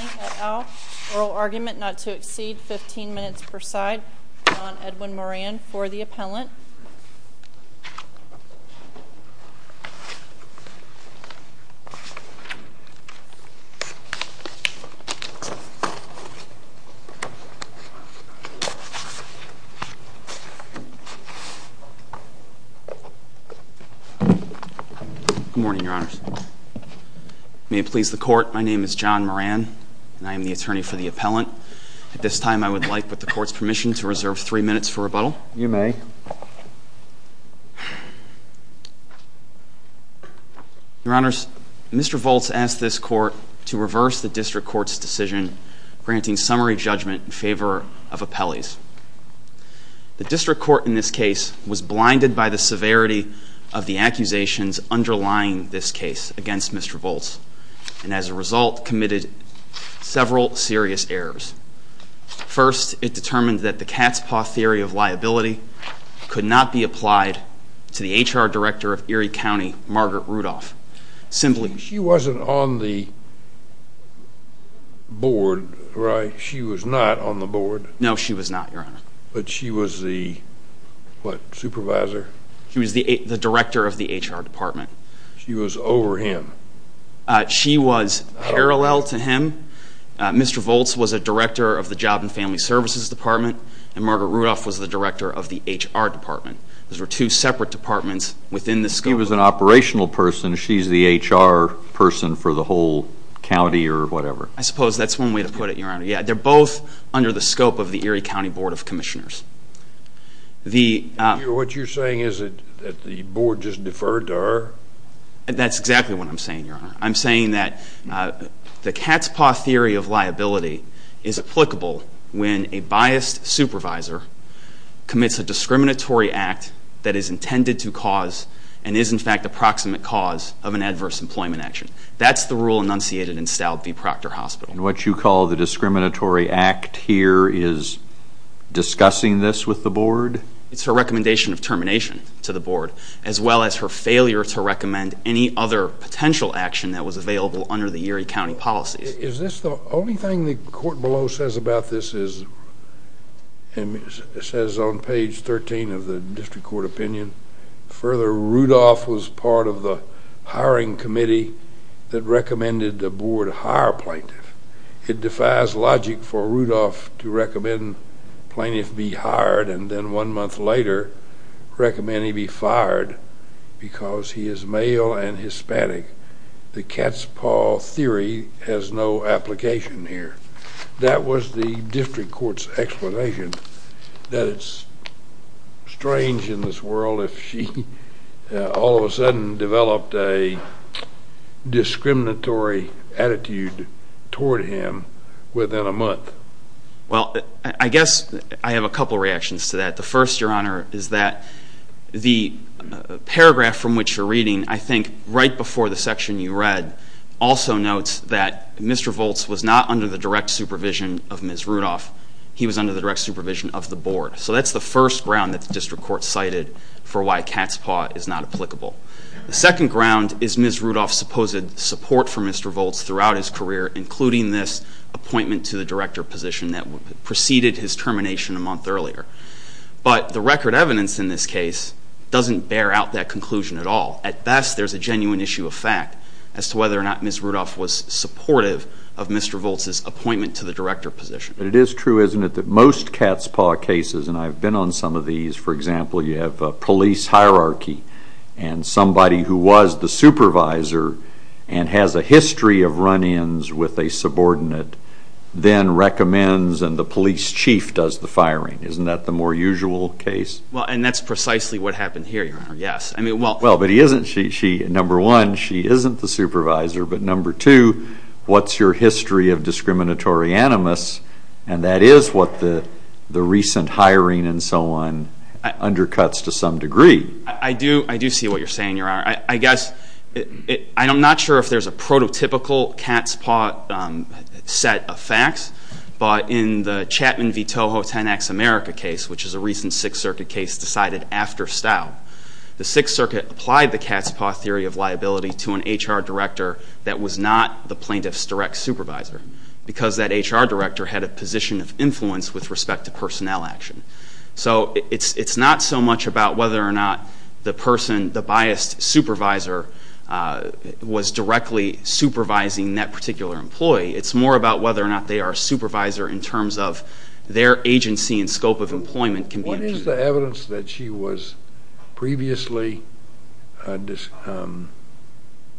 et al. Oral argument not to exceed 15 minutes per side. John Edwin Moran for the appellant. Good morning, your honors. May it please the court, my name is John Moran and I am the attorney for the appellant. At this time I would like, with the court's permission, to reserve three minutes for rebuttal. You may. Your honors, Mr. Voltz asked this court to grant a summary judgment in favor of appellees. The district court in this case was blinded by the severity of the accusations underlying this case against Mr. Voltz, and as a result committed several serious errors. First, it determined that the cat's paw theory of liability could not be applied to the HR director of Erie County, Margaret Rudolph. She wasn't on the board, right? She was not on the board. No, she was not, your honor. But she was the, what, supervisor? She was the director of the HR department. She was over him? She was parallel to him. Mr. Voltz was a director of the job and family services department, and Margaret Rudolph was the director of the HR department. Those were separate departments within the scope. She was an operational person. She's the HR person for the whole county or whatever. I suppose that's one way to put it, your honor. Yeah, they're both under the scope of the Erie County Board of Commissioners. What you're saying is that the board just deferred to her? That's exactly what I'm saying, your honor. I'm saying that the cat's paw theory of liability is applicable when a biased supervisor commits a discriminatory act that is intended to cause and is, in fact, a proximate cause of an adverse employment action. That's the rule enunciated in Stout v. Proctor Hospital. And what you call the discriminatory act here is discussing this with the board? It's her recommendation of termination to the board, as well as her failure to recommend any other potential action that was available under the Erie County policies. Is this the only thing the court below says about this is, and it says on page 13 of the district court opinion, further, Rudolph was part of the hiring committee that recommended the board hire plaintiff. It defies logic for Rudolph to recommend plaintiff be hired and then one month later recommend he be fired because he is male and Hispanic. The cat's paw theory has no application here. That was the district court's explanation that it's strange in this world if she all of a sudden developed a discriminatory attitude toward him within a month. Well, I guess I have a couple reactions to that. The first, is that the paragraph from which you're reading, I think right before the section you read, also notes that Mr. Volz was not under the direct supervision of Ms. Rudolph. He was under the direct supervision of the board. So that's the first ground that the district court cited for why cat's paw is not applicable. The second ground is Ms. Rudolph's supposed support for Mr. Volz throughout his career, including this appointment to the director position that preceded his record evidence in this case, doesn't bear out that conclusion at all. At best, there's a genuine issue of fact as to whether or not Ms. Rudolph was supportive of Mr. Volz's appointment to the director position. It is true, isn't it, that most cat's paw cases, and I've been on some of these, for example, you have a police hierarchy and somebody who was the supervisor and has a history of run-ins with a subordinate then recommends and the police chief does the firing. Isn't that the more usual case? Well, and that's precisely what happened here, your honor, yes. I mean, well, but he isn't, she, number one, she isn't the supervisor, but number two, what's your history of discriminatory animus and that is what the recent hiring and so on undercuts to some degree. I do see what you're saying, your honor. I guess, I'm not sure if there's a prototypical cat's paw set of facts, but in the Chapman v. Toho 10x America case, which is a recent Sixth Circuit case decided after Stow, the Sixth Circuit applied the cat's paw theory of liability to an HR director that was not the plaintiff's direct supervisor because that HR director had a position of influence with respect to personnel action. So it's not so much about whether or not the person, the biased supervisor, was directly supervising that particular employee. It's more about whether or not they are a supervisor in terms of their agency and scope of employment. What is the evidence that she was previously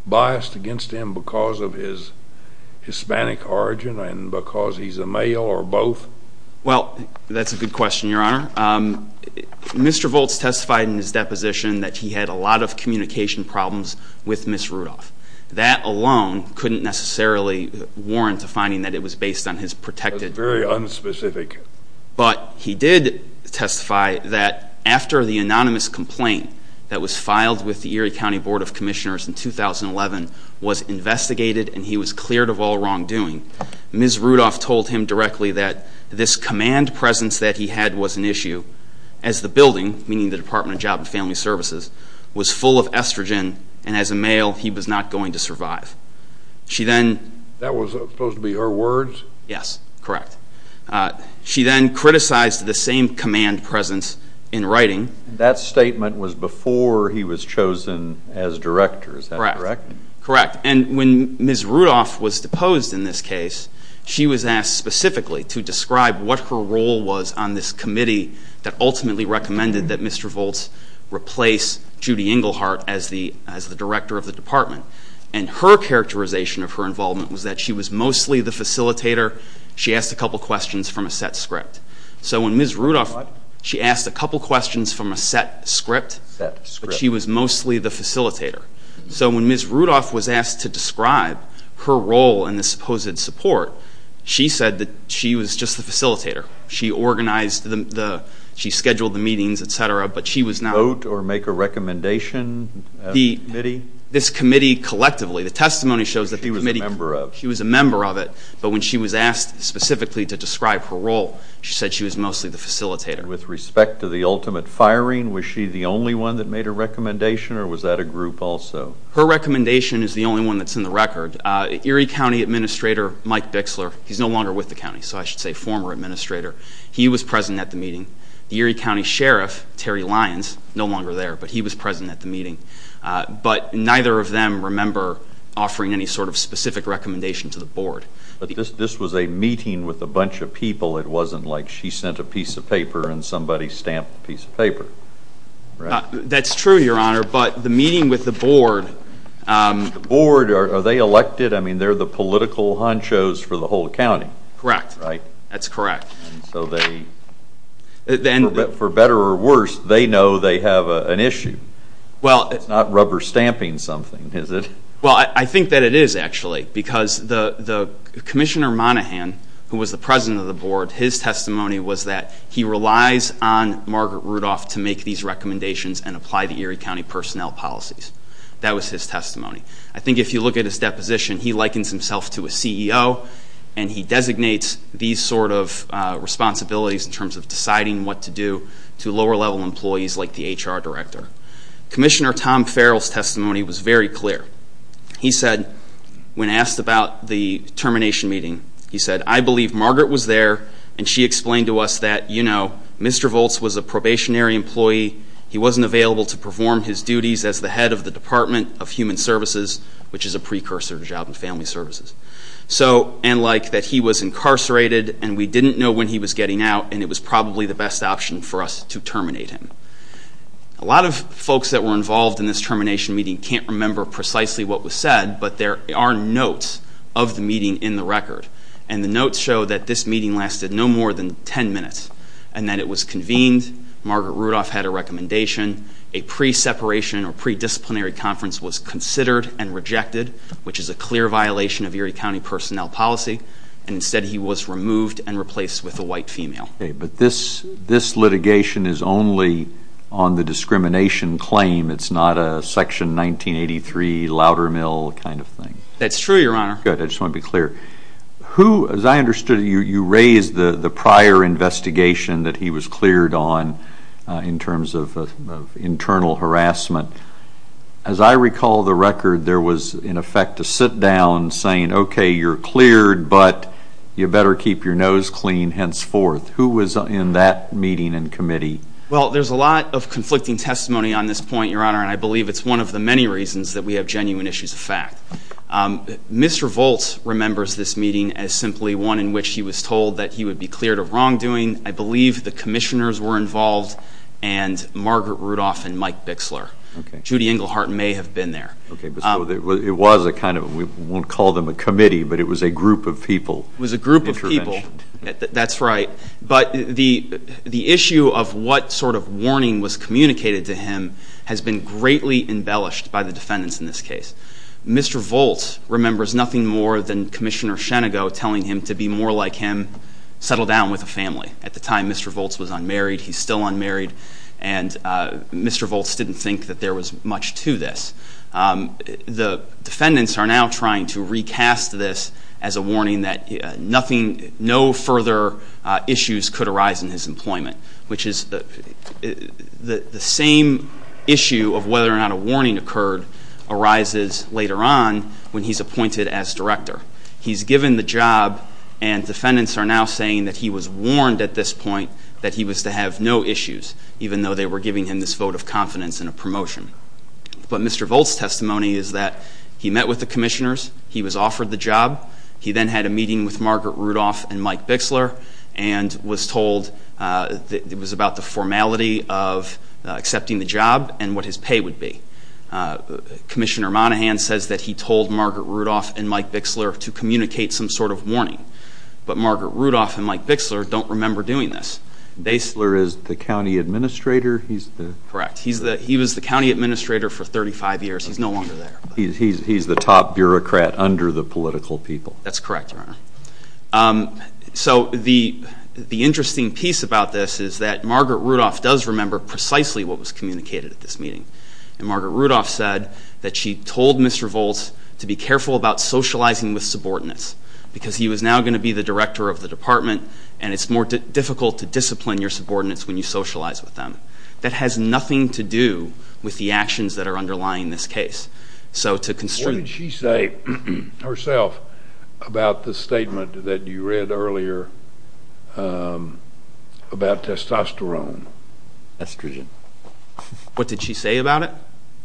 biased against him because of his Hispanic origin and because he's a male or both? Well, that's a good question, your honor. Mr. Volz testified in his deposition that he had a lot of communication problems with Ms. Rudolph. That alone couldn't necessarily warrant a finding that it was based on his protected... That's very unspecific. But he did testify that after the anonymous complaint that was filed with the Erie County Board of Commissioners in 2011 was investigated and he was cleared of all as the building, meaning the Department of Job and Family Services, was full of estrogen and as a male he was not going to survive. She then... That was supposed to be her words? Yes, correct. She then criticized the same command presence in writing. That statement was before he was chosen as director, is that correct? Correct. And when Ms. Rudolph was deposed in this case, she was asked specifically to describe what her role was on this committee that ultimately recommended that Mr. Volz replace Judy Engelhardt as the director of the department. And her characterization of her involvement was that she was mostly the facilitator. She asked a couple questions from a set script. So when Ms. Rudolph... What? She asked a couple questions from a set script, but she was mostly the facilitator. So when Ms. Rudolph was asked to describe her role in this supposed support, she said that she was just the facilitator. She organized the... She scheduled the meetings, etc., but she was not... Vote or make a recommendation of the committee? This committee collectively. The testimony shows that the committee... She was a member of. She was a member of it, but when she was asked specifically to describe her role, she said she was mostly the facilitator. With respect to the ultimate firing, was she the only one that made a recommendation, or was that a group also? Her recommendation is the only one that's in the record. Erie County Administrator Mike Bixler, he's no longer with the county, so I should say former administrator, he was present at the meeting. The Erie County Sheriff, Terry Lyons, no longer there, but he was present at the meeting. But neither of them remember offering any sort of specific recommendation to the board. But this was a meeting with a bunch of people. It wasn't like she sent a piece of paper and somebody stamped the piece of paper. That's true, your honor, but the meeting with the board... The board, are they elected? I mean, they're the political honchos for the whole county. Correct. Right. That's correct. And so they... For better or worse, they know they have an issue. Well... It's not rubber stamping something, is it? Well, I think that it is, actually, because Commissioner Monahan, who was the president of the board, his testimony was that he relies on Margaret Rudolph to make these recommendations and apply the Erie County personnel policies. That was his testimony. I think if you look at his deposition, he likens himself to a CEO, and he designates these sort of responsibilities in terms of deciding what to do to lower level employees like the HR director. Commissioner Tom Farrell's testimony was very clear. He said, when asked about the termination meeting, he said, I believe Margaret was there, and she explained to us that Mr. Volz was a probationary employee. He wasn't available to perform his duties as the head of the Department of Human Services, which is a precursor to Job and Family Services. And that he was incarcerated, and we didn't know when he was getting out, and it was probably the best option for us to terminate him. A lot of folks that were involved in this termination meeting can't remember precisely what was said, but there are notes of the meeting in the record, and the notes show that this meeting lasted no more than 10 minutes, and that it was convened, Margaret Rudolph had a recommendation, a pre-separation or pre-disciplinary conference was considered and rejected, which is a clear violation of Erie County personnel policy, and instead he was removed and replaced with a white female. Okay, but this litigation is only on the discrimination claim, it's not a Section 1983 Loudermill kind of thing. That's true, Your Honor. Good, I just want to be clear. Who, as I understood, you raised the prior investigation that he was cleared on in terms of internal harassment. As I recall the record, there was, in effect, a sit-down saying, okay, you're cleared, but you better keep your nose clean, henceforth. Who was in that meeting and committee? Well, there's a lot of conflicting testimony on this point, Your Honor, and I believe it's one of the many reasons that we have genuine issues of fact. Mr. Volt remembers this meeting as simply one in which he was told that he would be cleared of wrongdoing. I believe the commissioners were involved, and Margaret Rudolph and Mike Bixler. Okay. Judy Englehart may have been there. Okay, but it was a kind of, we won't call them a committee, but it was a group of people. It was a group of people, that's right, but the issue of what sort of warning was communicated to him has been greatly embellished by the defendants in this case. Mr. Volt remembers nothing more than Commissioner Shenago telling him to be more like him, settle down with a family. At the time, Mr. Volt was unmarried, he's still unmarried, and Mr. Volt didn't think that there was much to this. The defendants are now trying to recast this as a warning that nothing, no further issues could arise in his employment, which is the same issue of whether or not a warning occurred arises later on when he's appointed as director. He's given the job and defendants are now saying that he was warned at this point that he was to have no issues, even though they were giving him this vote of confidence in a promotion. But Mr. Volt's testimony is that he met with the commissioners, he was offered the job, he then had a meeting with Margaret Rudolph and Mike Bixler and was told it was about the formality of accepting the job and what his pay would be. Commissioner Monaghan says that he told Margaret Rudolph and Mike Bixler to communicate some sort of warning, but Margaret Rudolph and Mike Bixler don't remember doing this. Bixler is the county administrator, he's the... Correct, he's the, he was the county administrator for 35 years, he's no longer there. He's the top bureaucrat under the political people. That's correct, your honor. So the interesting piece about this is that Margaret Rudolph does remember precisely what was communicated at this meeting, and Margaret Rudolph said that she told Mr. Volt to be careful about socializing with subordinates, because he was now going to be the director of the department and it's more difficult to discipline your subordinates when you socialize with them. That has nothing to do with the actions that are underlying this case. So to constrain... What did she say herself about the statement that you read earlier about testosterone? Estrogen. What did she say about it?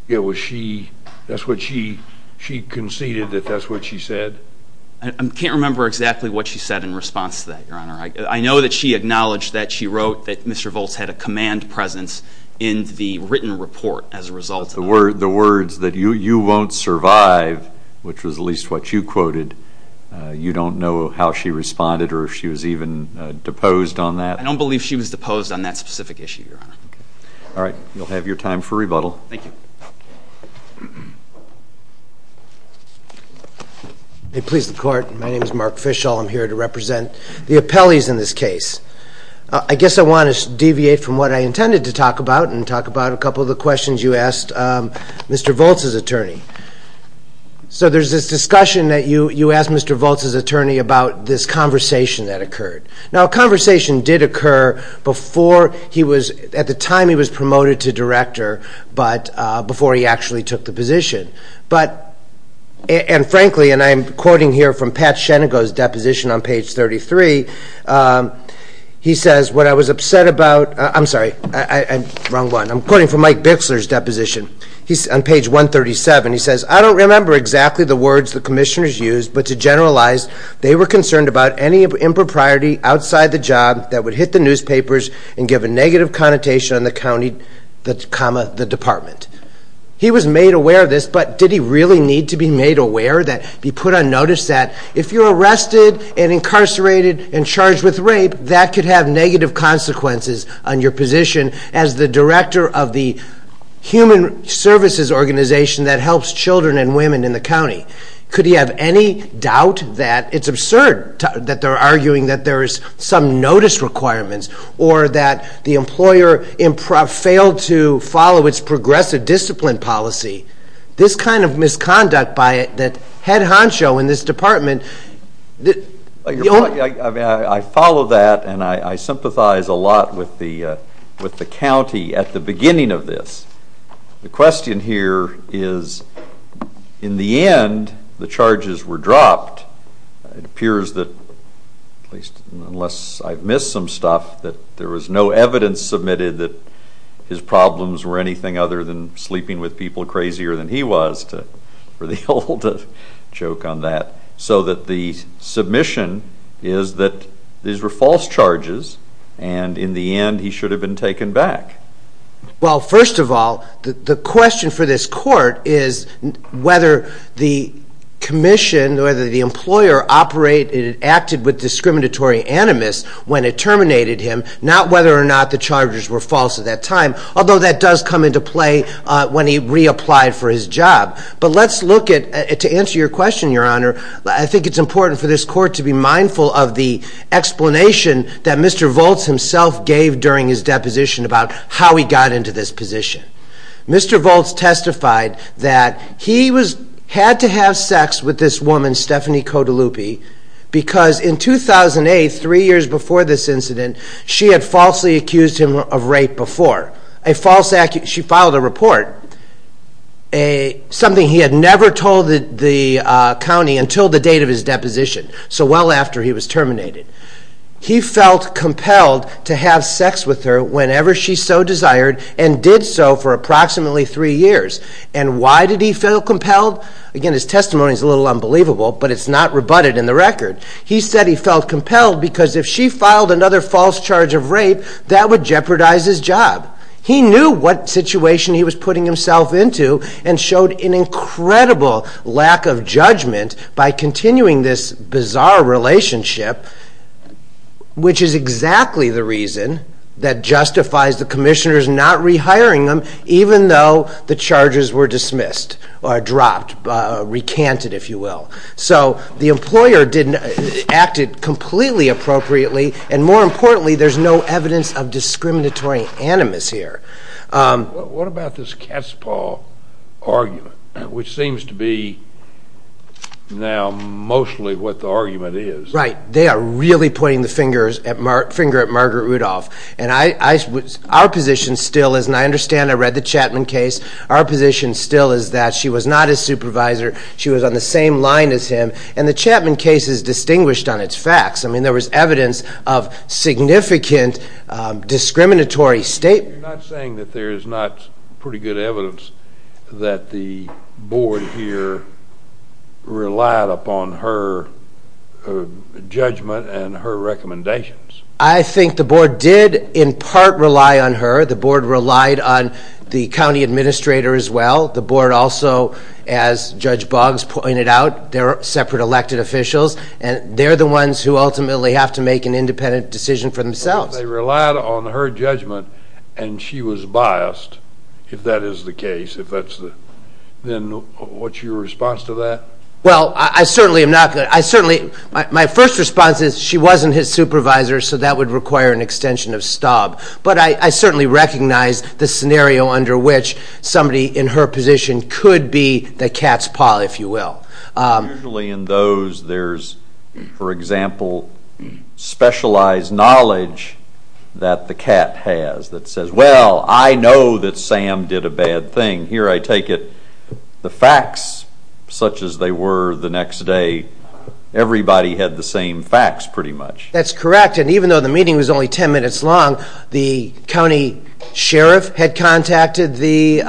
It was she, that's what she, she conceded that that's what she said. I can't remember exactly what she said in response to that, your honor. I know that she acknowledged that she wrote that Mr. Volt had a command presence in the written report as a result. The words that you, you won't survive, which was at least what you quoted, you don't know how she responded or if she was even deposed on that? I don't believe she was deposed on that specific issue, your honor. All right, you'll have your time for rebuttal. Thank you. May it please the court. My name is Mark Fischall. I'm here to represent the appellees in this case. I guess I want to deviate from what I intended to talk about and talk about a couple of the questions you asked Mr. Volt's attorney. So there's this discussion that you, you asked Mr. Volt's attorney about this conversation that occurred. Now a conversation did occur before he was, at the time he was promoted to director, but before he actually took the position. But, and frankly, and I'm quoting here from Pat Shenago's deposition on page 33. He says, what I was upset about, I'm sorry, I'm wrong one. I'm quoting from Mike Bixler's deposition. He's on page 137. He says, I don't remember exactly the words the commissioners used, but to generalize, they were concerned about any impropriety outside the job that would hit the newspapers and give a negative connotation on the county that comma the department. He was made aware of this, but did he really need to be made aware that he put on notice that if you're arrested and incarcerated and charged with rape, that could have negative consequences on your position as the director of the human services organization that helps children and women in the county. Could he have any doubt that it's absurd that they're arguing that there is some notice requirements or that the employer failed to follow its progressive discipline policy? This kind of misconduct by it, that head honcho in this department, I mean, I follow that and I sympathize a lot with the county at the beginning of this. The question here is, in the end, the charges were dropped. It appears that, at least unless I've missed some stuff, that there was no evidence submitted that his problems were anything other than sleeping with people crazier than he was, for the old joke on that, so that the submission is that these were false charges and in the end he should have been taken back. Well, first of all, the question for this court is whether the commission, whether the employer acted with discriminatory animus when it terminated him, not whether or not the charges were false at that time, although that does come into play when he reapplied for his job. But let's look at, to answer your question, Your Honor, I think it's important for this court to be mindful of the explanation that Mr. Volz himself gave during his deposition about how he got into this position. Mr. Volz testified that he had to have sex with this woman, Stephanie Cotolupi, because in 2008, three years before this incident, she had falsely accused him of rape before. She filed a report, something he had never told the county until the date of his deposition, so well after he was terminated. He felt compelled to have sex with her whenever she so desired and did so for approximately three years. And why did he feel compelled? Again, his testimony is a little unbelievable, but it's not rebutted in the record. He said he felt compelled because if she filed another false charge of rape, that would jeopardize his job. He knew what situation he was putting himself into and showed an incredible lack of judgment by continuing this bizarre relationship, which is exactly the reason that justifies the commissioners not rehiring him, even though the charges were dismissed or dropped, recanted, if you will. So the employer acted completely appropriately, and more importantly, there's no evidence of discriminatory animus here. What about this cat's paw argument, which seems to be now mostly what the argument is? Right, they are really pointing the finger at Margaret Rudolph, and our position still is, and I understand, I read the Chapman case, our position still is that she was not his supervisor, she was on the same line as him, and the Chapman case is distinguished on its facts. I mean, there was evidence of significant discriminatory statements. You're not saying that there is not pretty good evidence that the board here relied upon her judgment and her in part rely on her, the board relied on the county administrator as well, the board also, as Judge Boggs pointed out, they're separate elected officials, and they're the ones who ultimately have to make an independent decision for themselves. They relied on her judgment, and she was biased, if that is the case, if that's the, then what's your response to that? Well, I certainly am not, I certainly, my first response is she wasn't his supervisor, so that would require an extension of Staub, but I certainly recognize the scenario under which somebody in her position could be the cat's paw, if you will. Usually in those, there's, for example, specialized knowledge that the cat has that says, well, I know that Sam did a bad thing, here I take it, the facts such as they were the next day, everybody had the same facts, pretty much. That's correct, and even though the meeting was only 10 minutes long, the county sheriff had contacted the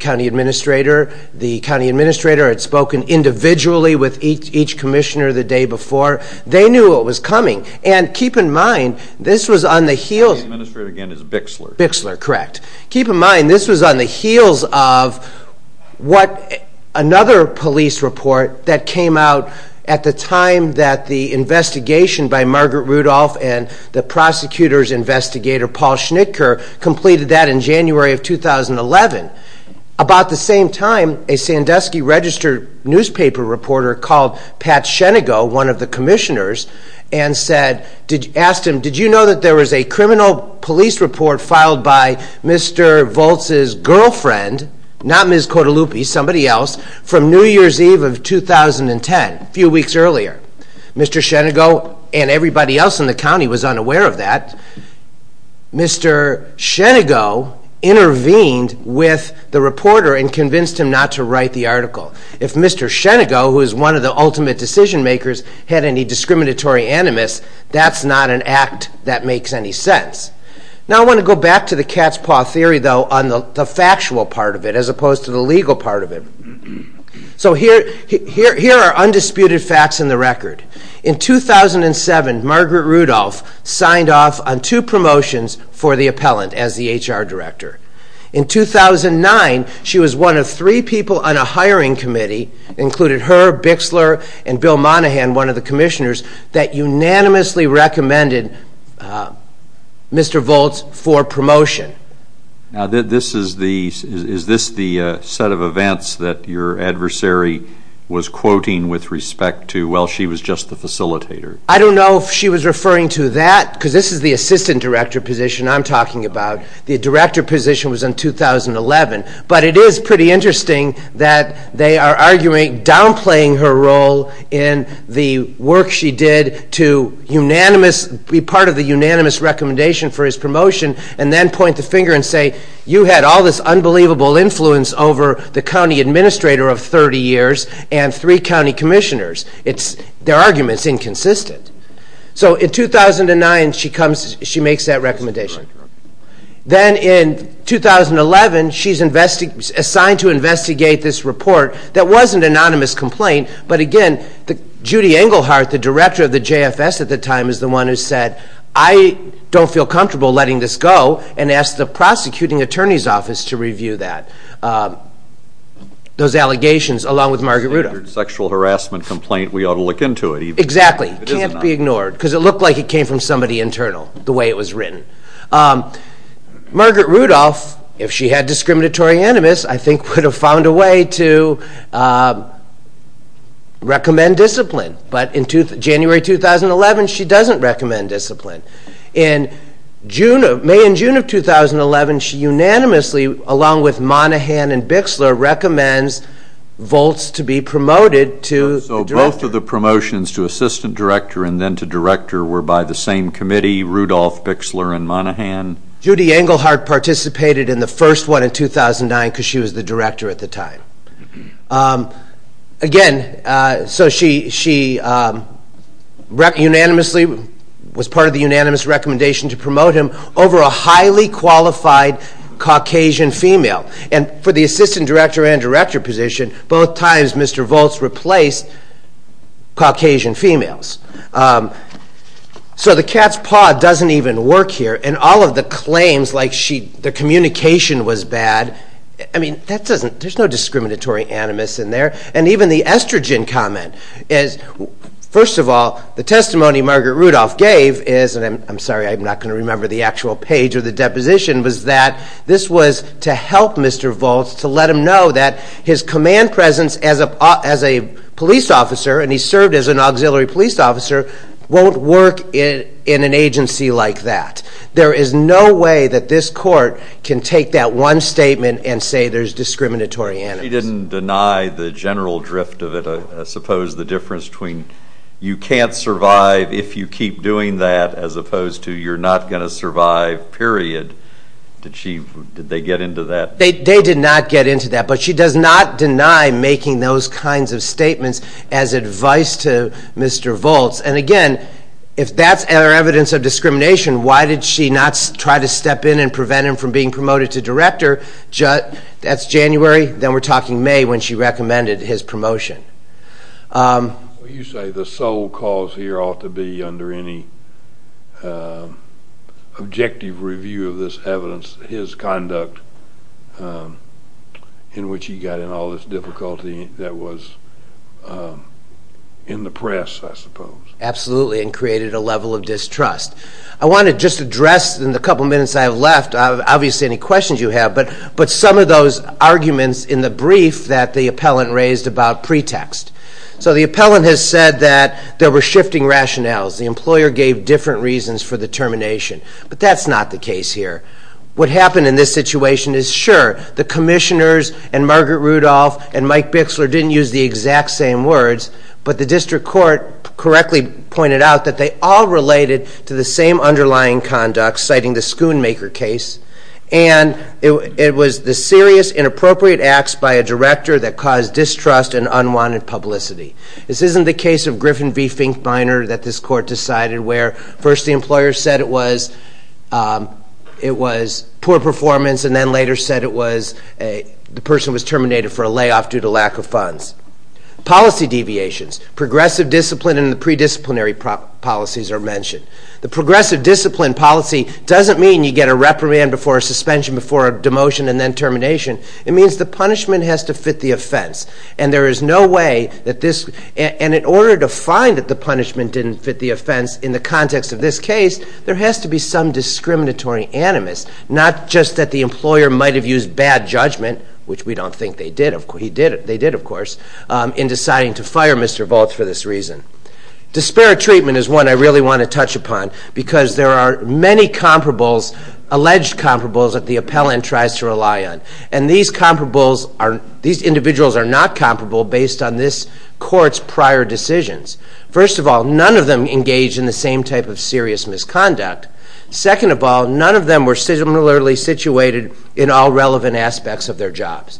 county administrator, the county administrator had spoken individually with each commissioner the day before, they knew what was coming, and keep in mind, this was on the heels, the county administrator again is Bixler, Bixler, correct. Keep in mind, this was on the heels of what another police report that came out at the time that the investigation by Margaret Rudolph and the prosecutor's investigator Paul Schnitker completed that in January of 2011. About the same time, a Sandusky Register newspaper reporter called Pat Shenigo, one of the commissioners, and said, asked him, did you know that there was a criminal police report filed by Mr. Volz's girlfriend, not Ms. Volz, in 2010, a few weeks earlier? Mr. Shenigo and everybody else in the county was unaware of that. Mr. Shenigo intervened with the reporter and convinced him not to write the article. If Mr. Shenigo, who is one of the ultimate decision makers, had any discriminatory animus, that's not an act that makes any sense. Now I want to go back to the cat's paw theory though, on the Here are undisputed facts in the record. In 2007, Margaret Rudolph signed off on two promotions for the appellant as the HR director. In 2009, she was one of three people on a hiring committee, included her, Bixler, and Bill Monaghan, one of the commissioners, that unanimously recommended Mr. Volz for promotion. Now is this the set of events that your adversary was quoting with respect to, well, she was just the facilitator? I don't know if she was referring to that, because this is the assistant director position I'm talking about. The director position was in 2011, but it is pretty interesting that they are arguing downplaying her role in the work she did to be part of the unanimous recommendation for his promotion, and then point the finger and say, you had all this unbelievable influence over the county administrator of 30 years, and three county commissioners. Their argument is inconsistent. So in 2009, she makes that recommendation. Then in 2011, she is assigned to investigate this report that wasn't an anonymous complaint, but again, Judy Engelhardt, the director of the JFS at the time, is the one who said, I don't feel comfortable letting this go, and asked the prosecuting attorney's office to review that, those allegations, along with Margaret Rudolph. Sexual harassment complaint, we ought to look into it. Exactly. It can't be ignored, because it looked like it came from somebody internal, the way it was written. Margaret Rudolph, if she had discriminatory I think would have found a way to recommend discipline, but in January 2011, she doesn't recommend discipline. In May and June of 2011, she unanimously, along with Monaghan and Bixler, recommends Volts to be promoted to the director. So both of the promotions to assistant director and then to director were by the same committee, Rudolph, Bixler, and Monaghan? Judy Engelhardt in the first one in 2009, because she was the director at the time. Again, so she unanimously was part of the unanimous recommendation to promote him over a highly qualified Caucasian female, and for the assistant director and director position, both times Mr. Volts replaced Caucasian females. So the cat's paw doesn't even work here, and all of the claims, like the communication was bad, I mean that doesn't, there's no discriminatory animus in there, and even the estrogen comment is, first of all, the testimony Margaret Rudolph gave is, and I'm sorry I'm not going to remember the actual page of the deposition, was that this was to help Mr. Volts to let him know that his command presence as a police officer, and he served as an auxiliary police officer, won't work in an agency like that. There is no way that this court can take that one statement and say there's discriminatory animus. She didn't deny the general drift of it, suppose the difference between you can't survive if you keep doing that, as opposed to you're not going to survive, period. Did she, did they get into that? They did not get into that, but she does not deny making those kinds of statements as advice to Mr. Volts, and again, if that's evidence of discrimination, why did she not try to step in and prevent him from being promoted to director? That's January, then we're talking May when she recommended his promotion. You say the sole cause here ought to be under any objective review of this evidence, his conduct, in which he got in all this difficulty that was in the press, I suppose. Absolutely, and created a level of distrust. I want to just address in the couple minutes I have left, obviously any questions you have, but some of those arguments in the brief that the appellant raised about pretext. So the appellant has said that there were shifting rationales, the employer gave different reasons for the termination, but that's not the case here. What happened in this situation is sure, the commissioners and Margaret Rudolph and Mike Bixler didn't use the exact same words, but the district court correctly pointed out that they all related to the same underlying conduct, citing the Schoonmaker case, and it was the serious inappropriate acts by a director that caused distrust and unwanted publicity. This isn't the case of Griffin v. Finkbeiner that this court decided where first the employer said it was poor performance and then later said it was the person was terminated for a layoff due to lack of funds. Policy deviations, progressive discipline and the predisciplinary policies are mentioned. The progressive discipline policy doesn't mean you get a reprimand before a suspension, before a demotion, and then termination. It means the punishment has to fit the offense, and there is no way that this, and in order to in the context of this case, there has to be some discriminatory animus, not just that the employer might have used bad judgment, which we don't think they did, they did of course, in deciding to fire Mr. Voth for this reason. Despair treatment is one I really want to touch upon because there are many comparables, alleged comparables that the appellant tries to rely on, and these comparables are, these individuals are not comparable based on this court's prior decisions. First of all, none of them engaged in the same type of serious misconduct. Second of all, none of them were similarly situated in all relevant aspects of their jobs.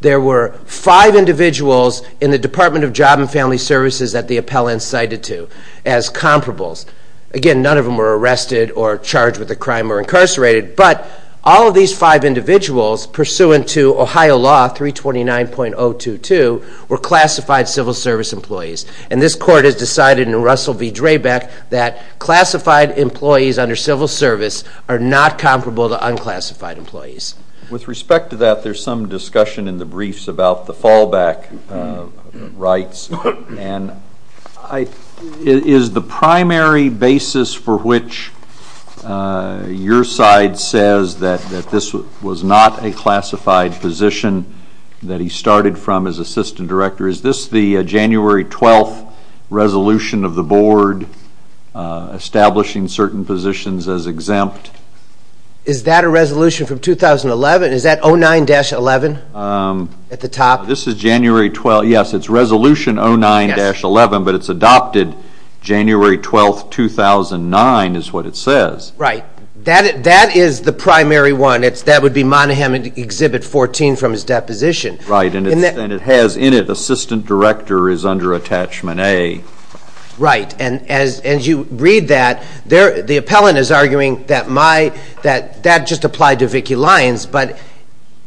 There were five individuals in the Department of Job and Family Services that the appellant cited to as comparables. Again, none of them were arrested or charged with a crime or incarcerated, but all of these five individuals, pursuant to Ohio law 329.022, were classified civil service employees, and this court has decided in Russell v. Draybeck that classified employees under civil service are not comparable to unclassified employees. With respect to that, there's some discussion in the briefs about the fallback rights, and is the primary basis for which your side says that this was not a classified position that he started from as assistant director? Is this the January 12th resolution of the board establishing certain positions as exempt? Is that a resolution from 2011? Is that 09-11 at the top? This is January 12th. Yes, it's that. That is the primary one. That would be Monahan Exhibit 14 from his deposition. Right, and it has in it, assistant director is under attachment A. Right, and as you read that, the appellant is arguing that that just applied to Vicki Lyons, but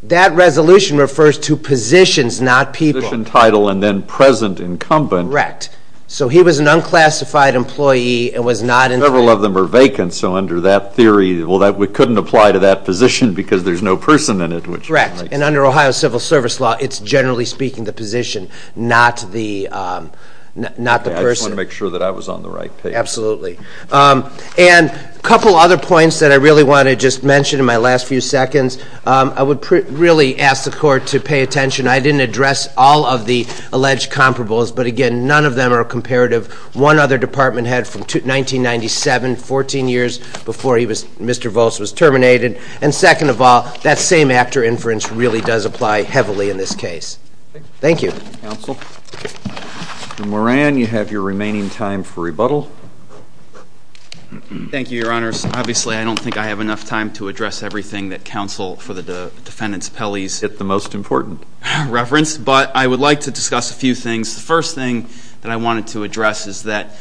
that resolution refers to positions, not people. Position, title, and then present incumbent. Correct. So he was an unclassified employee and was not... Several of them are vacant, so under that theory, well, we couldn't apply to that position because there's no person in it, which... Correct, and under Ohio civil service law, it's generally speaking the position, not the person. Okay, I just want to make sure that I was on the right page. Absolutely, and a couple other points that I really want to just mention in my last few seconds. I would really ask the court to pay attention. I didn't address all of the alleged comparables, but again, none of them are comparative. One other department had from 1997, 14 years before Mr. Volz was terminated, and second of all, that same actor inference really does apply heavily in this case. Thank you. Counsel. Mr. Moran, you have your remaining time for rebuttal. Thank you, your honors. Obviously, I don't think I have enough time to address everything that counsel for the defendant's appellees... Get the most important... Reference, but I would like to discuss a few things. The first thing that I wanted to address is that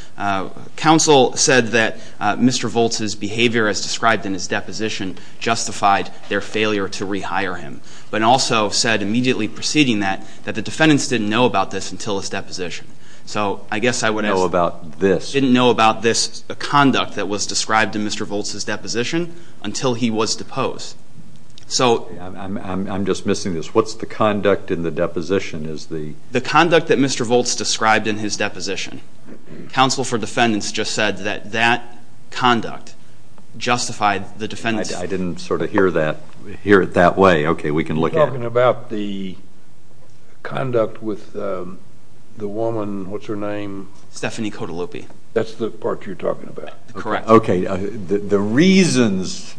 counsel said that Mr. Volz's behavior as described in his deposition justified their failure to rehire him, but also said immediately preceding that, that the defendants didn't know about this until his deposition. So I guess I would ask... Know about this. Didn't know about this conduct that was described in Mr. Volz's deposition until he was deposed. So... I'm just missing this. What's the conduct in the deposition? Is the... The conduct that Mr. Volz described in his deposition. Counsel for defendants just said that that conduct justified the defendants... I didn't sort of hear that, hear it that way. Okay, we can look at... You're talking about the conduct with the woman, what's her name? Stephanie Cotolupi. That's the part you're talking about? Correct. Okay, the reasons,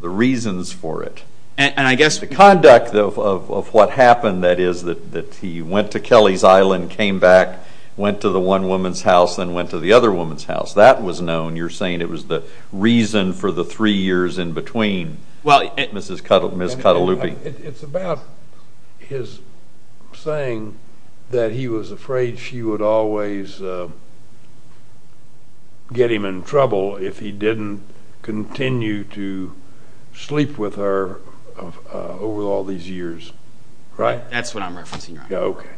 the reasons for it. And I guess the conduct of what happened, that is, that he went to Kelly's Island, came back, went to the one woman's house, then went to the other woman's house, that was known. You're saying it was the reason for the three years in between. Well... Mrs. Cotolupi. It's about his saying that he was afraid she would always get him in trouble if he didn't continue to sleep with her over all these years, right? That's what I'm referencing. Yeah, okay.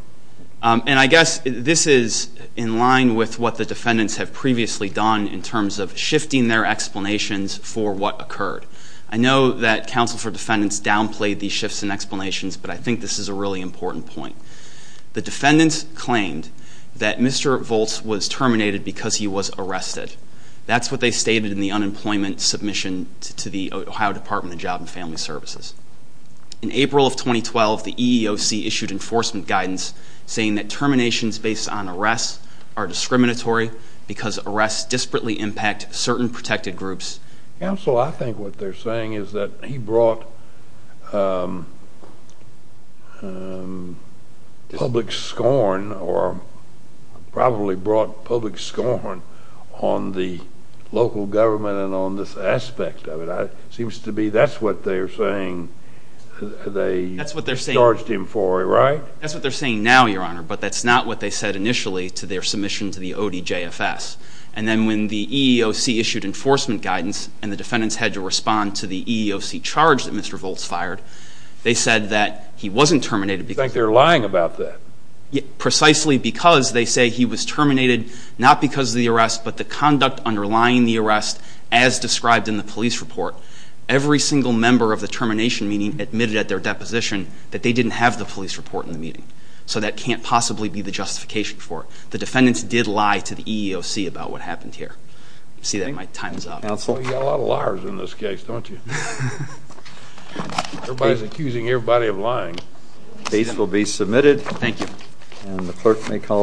And I guess this is in line with what the defendants have previously done in terms of shifting their explanations for what occurred. I know that counsel for defendants downplayed these shifts in explanations, but I think this is a really important point. The defendants claimed that Mr. Volz was terminated because he was arrested. That's what they stated in the unemployment submission to the Ohio Department of Job and Family Services. In April of 2012, the EEOC issued enforcement guidance saying that terminations based on arrests are discriminatory because arrests disparately impact certain protected groups. Counsel, I think what they're saying is that he brought public scorn or probably brought public scorn on the local government and on this aspect of it. Seems to be that's what they're saying. They charged him for it, right? That's what they're saying now, Your Honor, but that's not what they said initially to their submission to the ODJFS. And then when the EEOC issued enforcement guidance and the defendants had to respond to the EEOC charge that Mr. Volz fired, they said that he wasn't terminated. You think they're lying about that? Precisely because they say he was terminated not because of the arrest, but the conduct underlying the arrest as described in the police report. Every single member of the termination meeting admitted at their deposition that they didn't have the police report in the meeting. So that can't possibly be the justification for it. The defendants did lie to the EEOC about what happened here. I see that my time is up. Counsel? Well, you've got a lot of liars in this case, don't you? Everybody's accusing everybody of lying. Case will be submitted. Thank you. And the clerk may call.